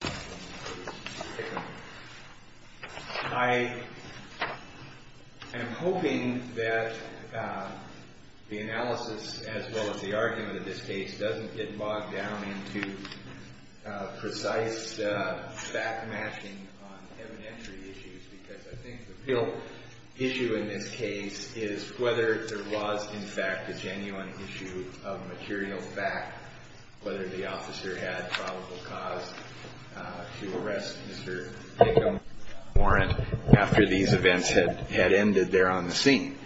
I am hoping that the analysis, as well as the argument of this case, doesn't get bogged down into precise fact-matching on evidentiary issues, because I think the real issue in this case is whether there was in fact a genuine issue of material fact, whether the officer had probable cause to arrest Mr. Hickam warrant after these events had ended there on the scene.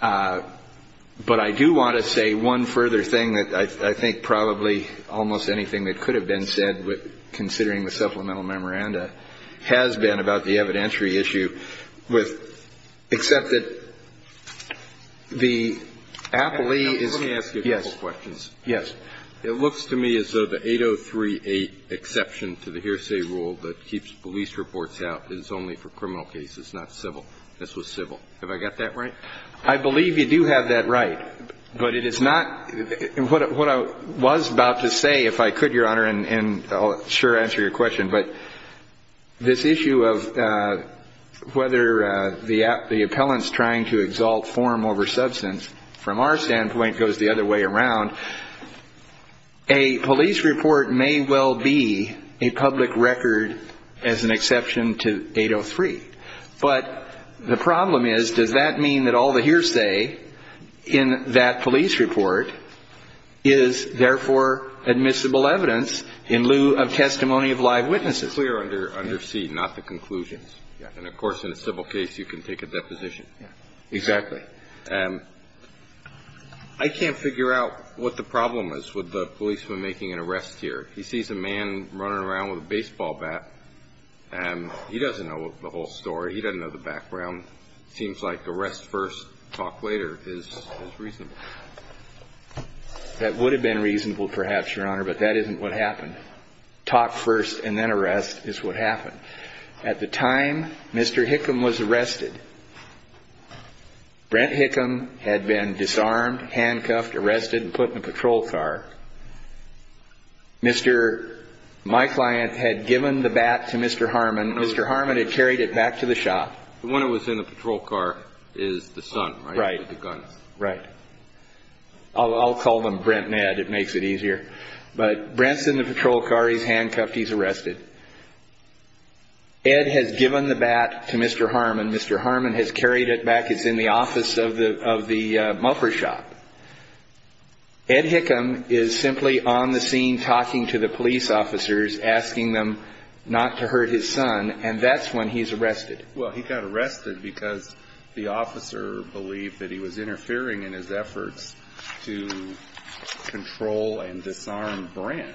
But I do want to say one further thing that I think probably almost anything that could have been said, considering the supplemental memoranda, has been about the evidentiary issue. I don't know if you agree with, except that the appellee is... Let me ask you a couple questions. Yes. It looks to me as though the 8038 exception to the hearsay rule that keeps police reports out is only for criminal cases, not civil. This was civil. Have I got that right? I believe you do have that right. But it is not – what I was about to say, if I could, Your Honor, and I'll sure answer your question, but this issue of whether the appellant's trying to exalt form over substance, from our standpoint, goes the other way around. A police report may well be a public record as an exception to 803. But the problem is, does that mean that all the hearsay in that police report is therefore admissible evidence in lieu of testimony of live witnesses? It's clear under C, not the conclusions. And, of course, in a civil case, you can take a deposition. Exactly. I can't figure out what the problem is with the policeman making an arrest here. He sees a man running around with a baseball bat, and he doesn't know the whole story. He doesn't know the background. It seems like arrest first, talk later is reasonable. That would have been reasonable, perhaps, Your Honor, but that isn't what happened. Talk first and then arrest is what happened. At the time Mr. Hickam was arrested, Brent Hickam had been disarmed, handcuffed, arrested, and put in a patrol car. My client had given the bat to Mr. Harmon. Mr. Harmon had carried it back to the shop. The one that was in the patrol car is the son, right? Right. With the gun. Right. I'll call them Brent and Ed. It makes it easier. But Brent's in the patrol car. He's handcuffed. He's arrested. Ed has given the bat to Mr. Harmon. Mr. Harmon has carried it back. It's in the office of the muffler shop. Ed Hickam is simply on the scene talking to the police officers, asking them not to hurt his son, and that's when he's arrested. Well, he got arrested because the officer believed that he was interfering in his efforts to control and disarm Brent.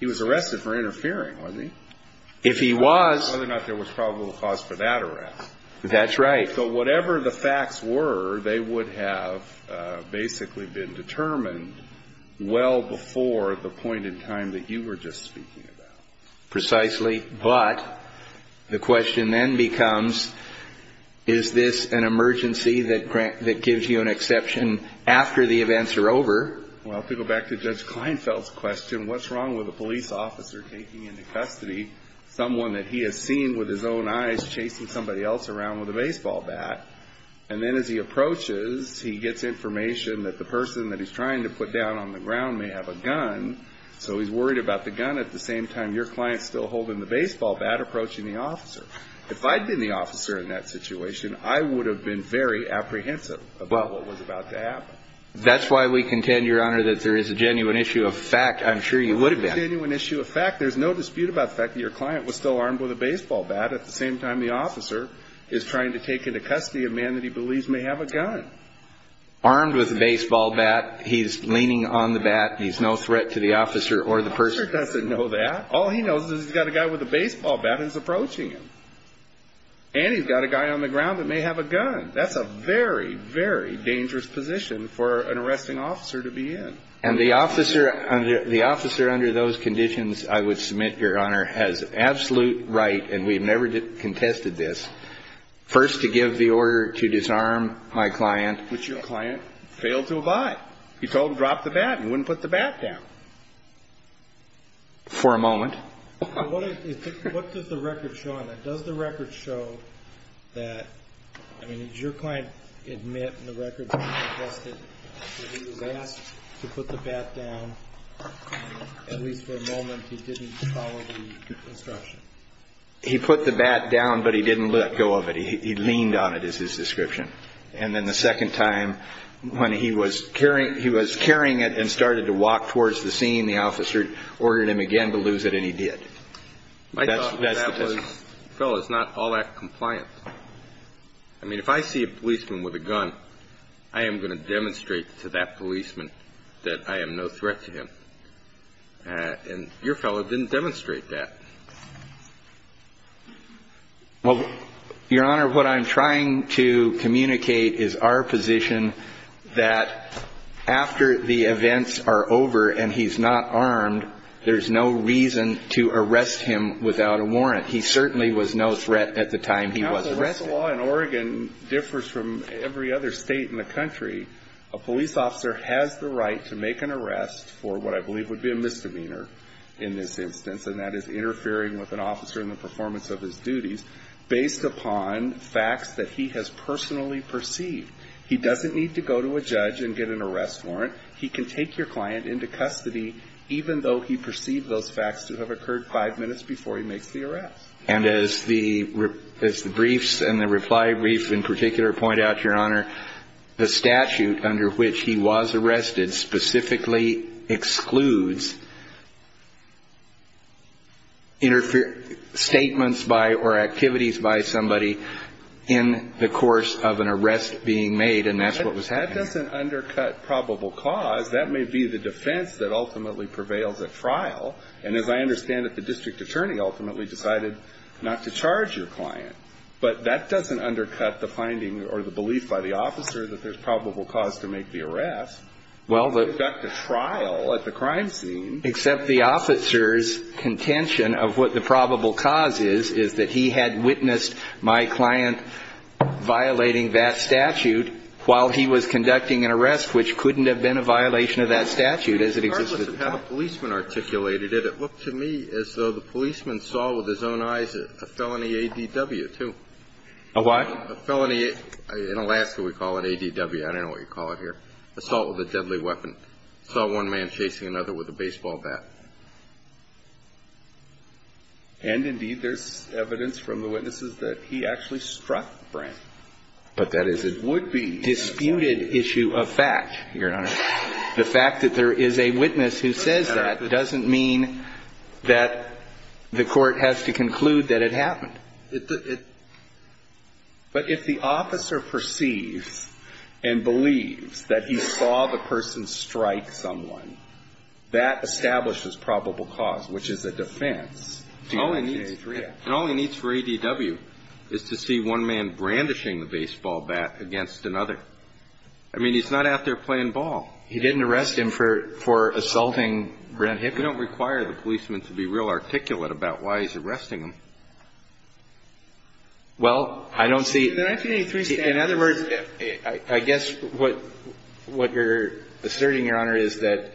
He was arrested for interfering, wasn't he? If he was. Whether or not there was probable cause for that arrest. That's right. So whatever the facts were, they would have basically been determined well before the point in time that you were just speaking about. Precisely. But the question then becomes, is this an emergency that gives you an exception after the events are over? Well, to go back to Judge Kleinfeld's question, what's wrong with a police officer taking into custody someone that he has seen with his own eyes chasing somebody else around with a baseball bat, and then as he approaches, he gets information that the person that he's trying to put down on the ground may have a gun, so he's worried about the gun at the same time your client's still holding the baseball bat approaching the officer. If I'd been the officer in that situation, I would have been very apprehensive about what was about to happen. That's why we contend, Your Honor, that there is a genuine issue of fact. I'm sure you would have been. There's no dispute about the fact that your client was still armed with a baseball bat at the same time the officer is trying to take into custody a man that he believes may have a gun. Armed with a baseball bat, he's leaning on the bat. He's no threat to the officer or the person. The officer doesn't know that. All he knows is he's got a guy with a baseball bat that's approaching him, and he's got a guy on the ground that may have a gun. That's a very, very dangerous position for an arresting officer to be in. And the officer under those conditions, I would submit, Your Honor, has absolute right, and we've never contested this, first to give the order to disarm my client. But your client failed to abide. You told him, drop the bat, and he wouldn't put the bat down. For a moment. What does the record show on that? Does the record show that, I mean, did your client admit in the record that he was asked to put the bat down? At least for a moment, he didn't follow the instruction. He put the bat down, but he didn't let go of it. He leaned on it is his description. And then the second time when he was carrying it and started to walk towards the scene, the officer ordered him again to lose it, and he did. My thought was that fellow is not all that compliant. I mean, if I see a policeman with a gun, I am going to demonstrate to that policeman that I am no threat to him. And your fellow didn't demonstrate that. Well, Your Honor, what I'm trying to communicate is our position that after the events are over and he's not armed, there's no reason to arrest him without a warrant. He certainly was no threat at the time he was arrested. Now, the law in Oregon differs from every other state in the country. A police officer has the right to make an arrest for what I believe would be a misdemeanor in this instance, and that is interfering with an officer in the performance of his duties based upon facts that he has personally perceived. He doesn't need to go to a judge and get an arrest warrant. He can take your client into custody even though he perceived those facts to have occurred five minutes before he makes the arrest. And as the briefs and the reply brief in particular point out, Your Honor, the statute under which he was arrested specifically excludes statements by or activities by somebody in the course of an arrest being made, and that's what was happening. And that doesn't undercut probable cause. That may be the defense that ultimately prevails at trial. And as I understand it, the district attorney ultimately decided not to charge your client. But that doesn't undercut the finding or the belief by the officer that there's probable cause to make the arrest. Well, the – You conduct a trial at the crime scene. Except the officer's contention of what the probable cause is is that he had witnessed my client violating that statute while he was conducting an arrest, which couldn't have been a violation of that statute as it existed. Regardless of how the policeman articulated it, it looked to me as though the policeman saw with his own eyes a felony ADW, too. A what? A felony in Alaska we call it ADW. I don't know what you call it here. Assault with a deadly weapon. Saw one man chasing another with a baseball bat. And, indeed, there's evidence from the witnesses that he actually struck Frank. But that is a disputed issue of fact, Your Honor. The fact that there is a witness who says that doesn't mean that the court has to conclude that it happened. But if the officer perceives and believes that he saw the person strike someone, that establishes probable cause, which is a defense. And all he needs for ADW is to see one man brandishing the baseball bat against another. I mean, he's not out there playing ball. He didn't arrest him for assaulting Brent Hickey. You don't require the policeman to be real articulate about why he's arresting him. Well, I don't see. In other words, I guess what you're asserting, Your Honor, is that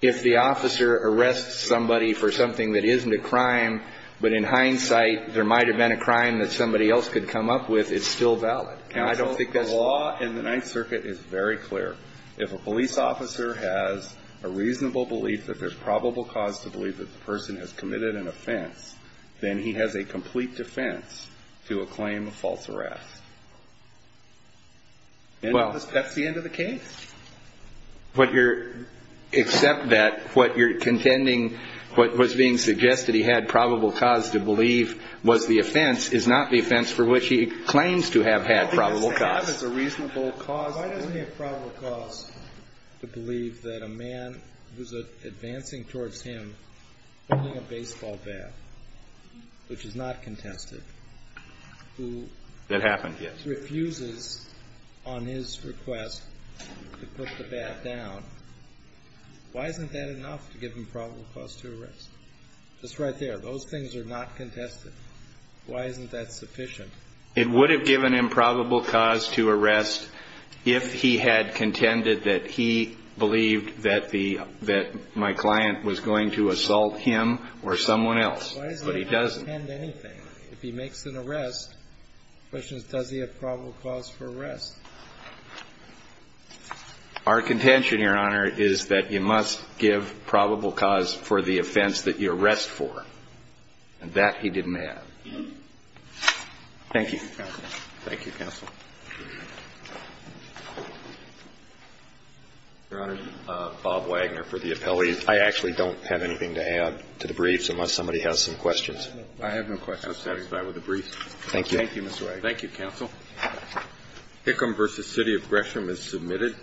if the officer arrests somebody for something that isn't a crime, but in hindsight, there might have been a crime that somebody else could come up with, it's still valid. Counsel, the law in the Ninth Circuit is very clear. If a police officer has a reasonable belief that there's probable cause to believe that the person has committed an offense, then he has a complete defense to a claim of false arrest. And that's the end of the case. Except that what you're contending, what was being suggested he had probable cause to believe was the offense, is not the offense for which he claims to have had probable cause. All he has to have is a reasonable cause. Why doesn't he have probable cause to believe that a man who's advancing towards him holding a baseball bat, which is not contested, who refuses on his request to put the bat down, why isn't that enough to give him probable cause to arrest? Just right there. Those things are not contested. Why isn't that sufficient? It would have given him probable cause to arrest if he had contended that he believed that the, that my client was going to assault him or someone else. But he doesn't. If he makes an arrest, the question is does he have probable cause for arrest? Our contention, Your Honor, is that you must give probable cause for the offense that you arrest for. And that he didn't have. Thank you. Thank you, counsel. Your Honor, Bob Wagner for the appellee. I actually don't have anything to add to the briefs unless somebody has some questions. I have no questions. I'm satisfied with the briefs. Thank you. Thank you, Mr. Wagner. Thank you, counsel. Hickam v. City of Gresham is submitted.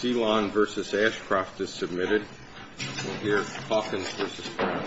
Selon v. Ashcroft is submitted. Here's Hawkins v. Brown. Thank you.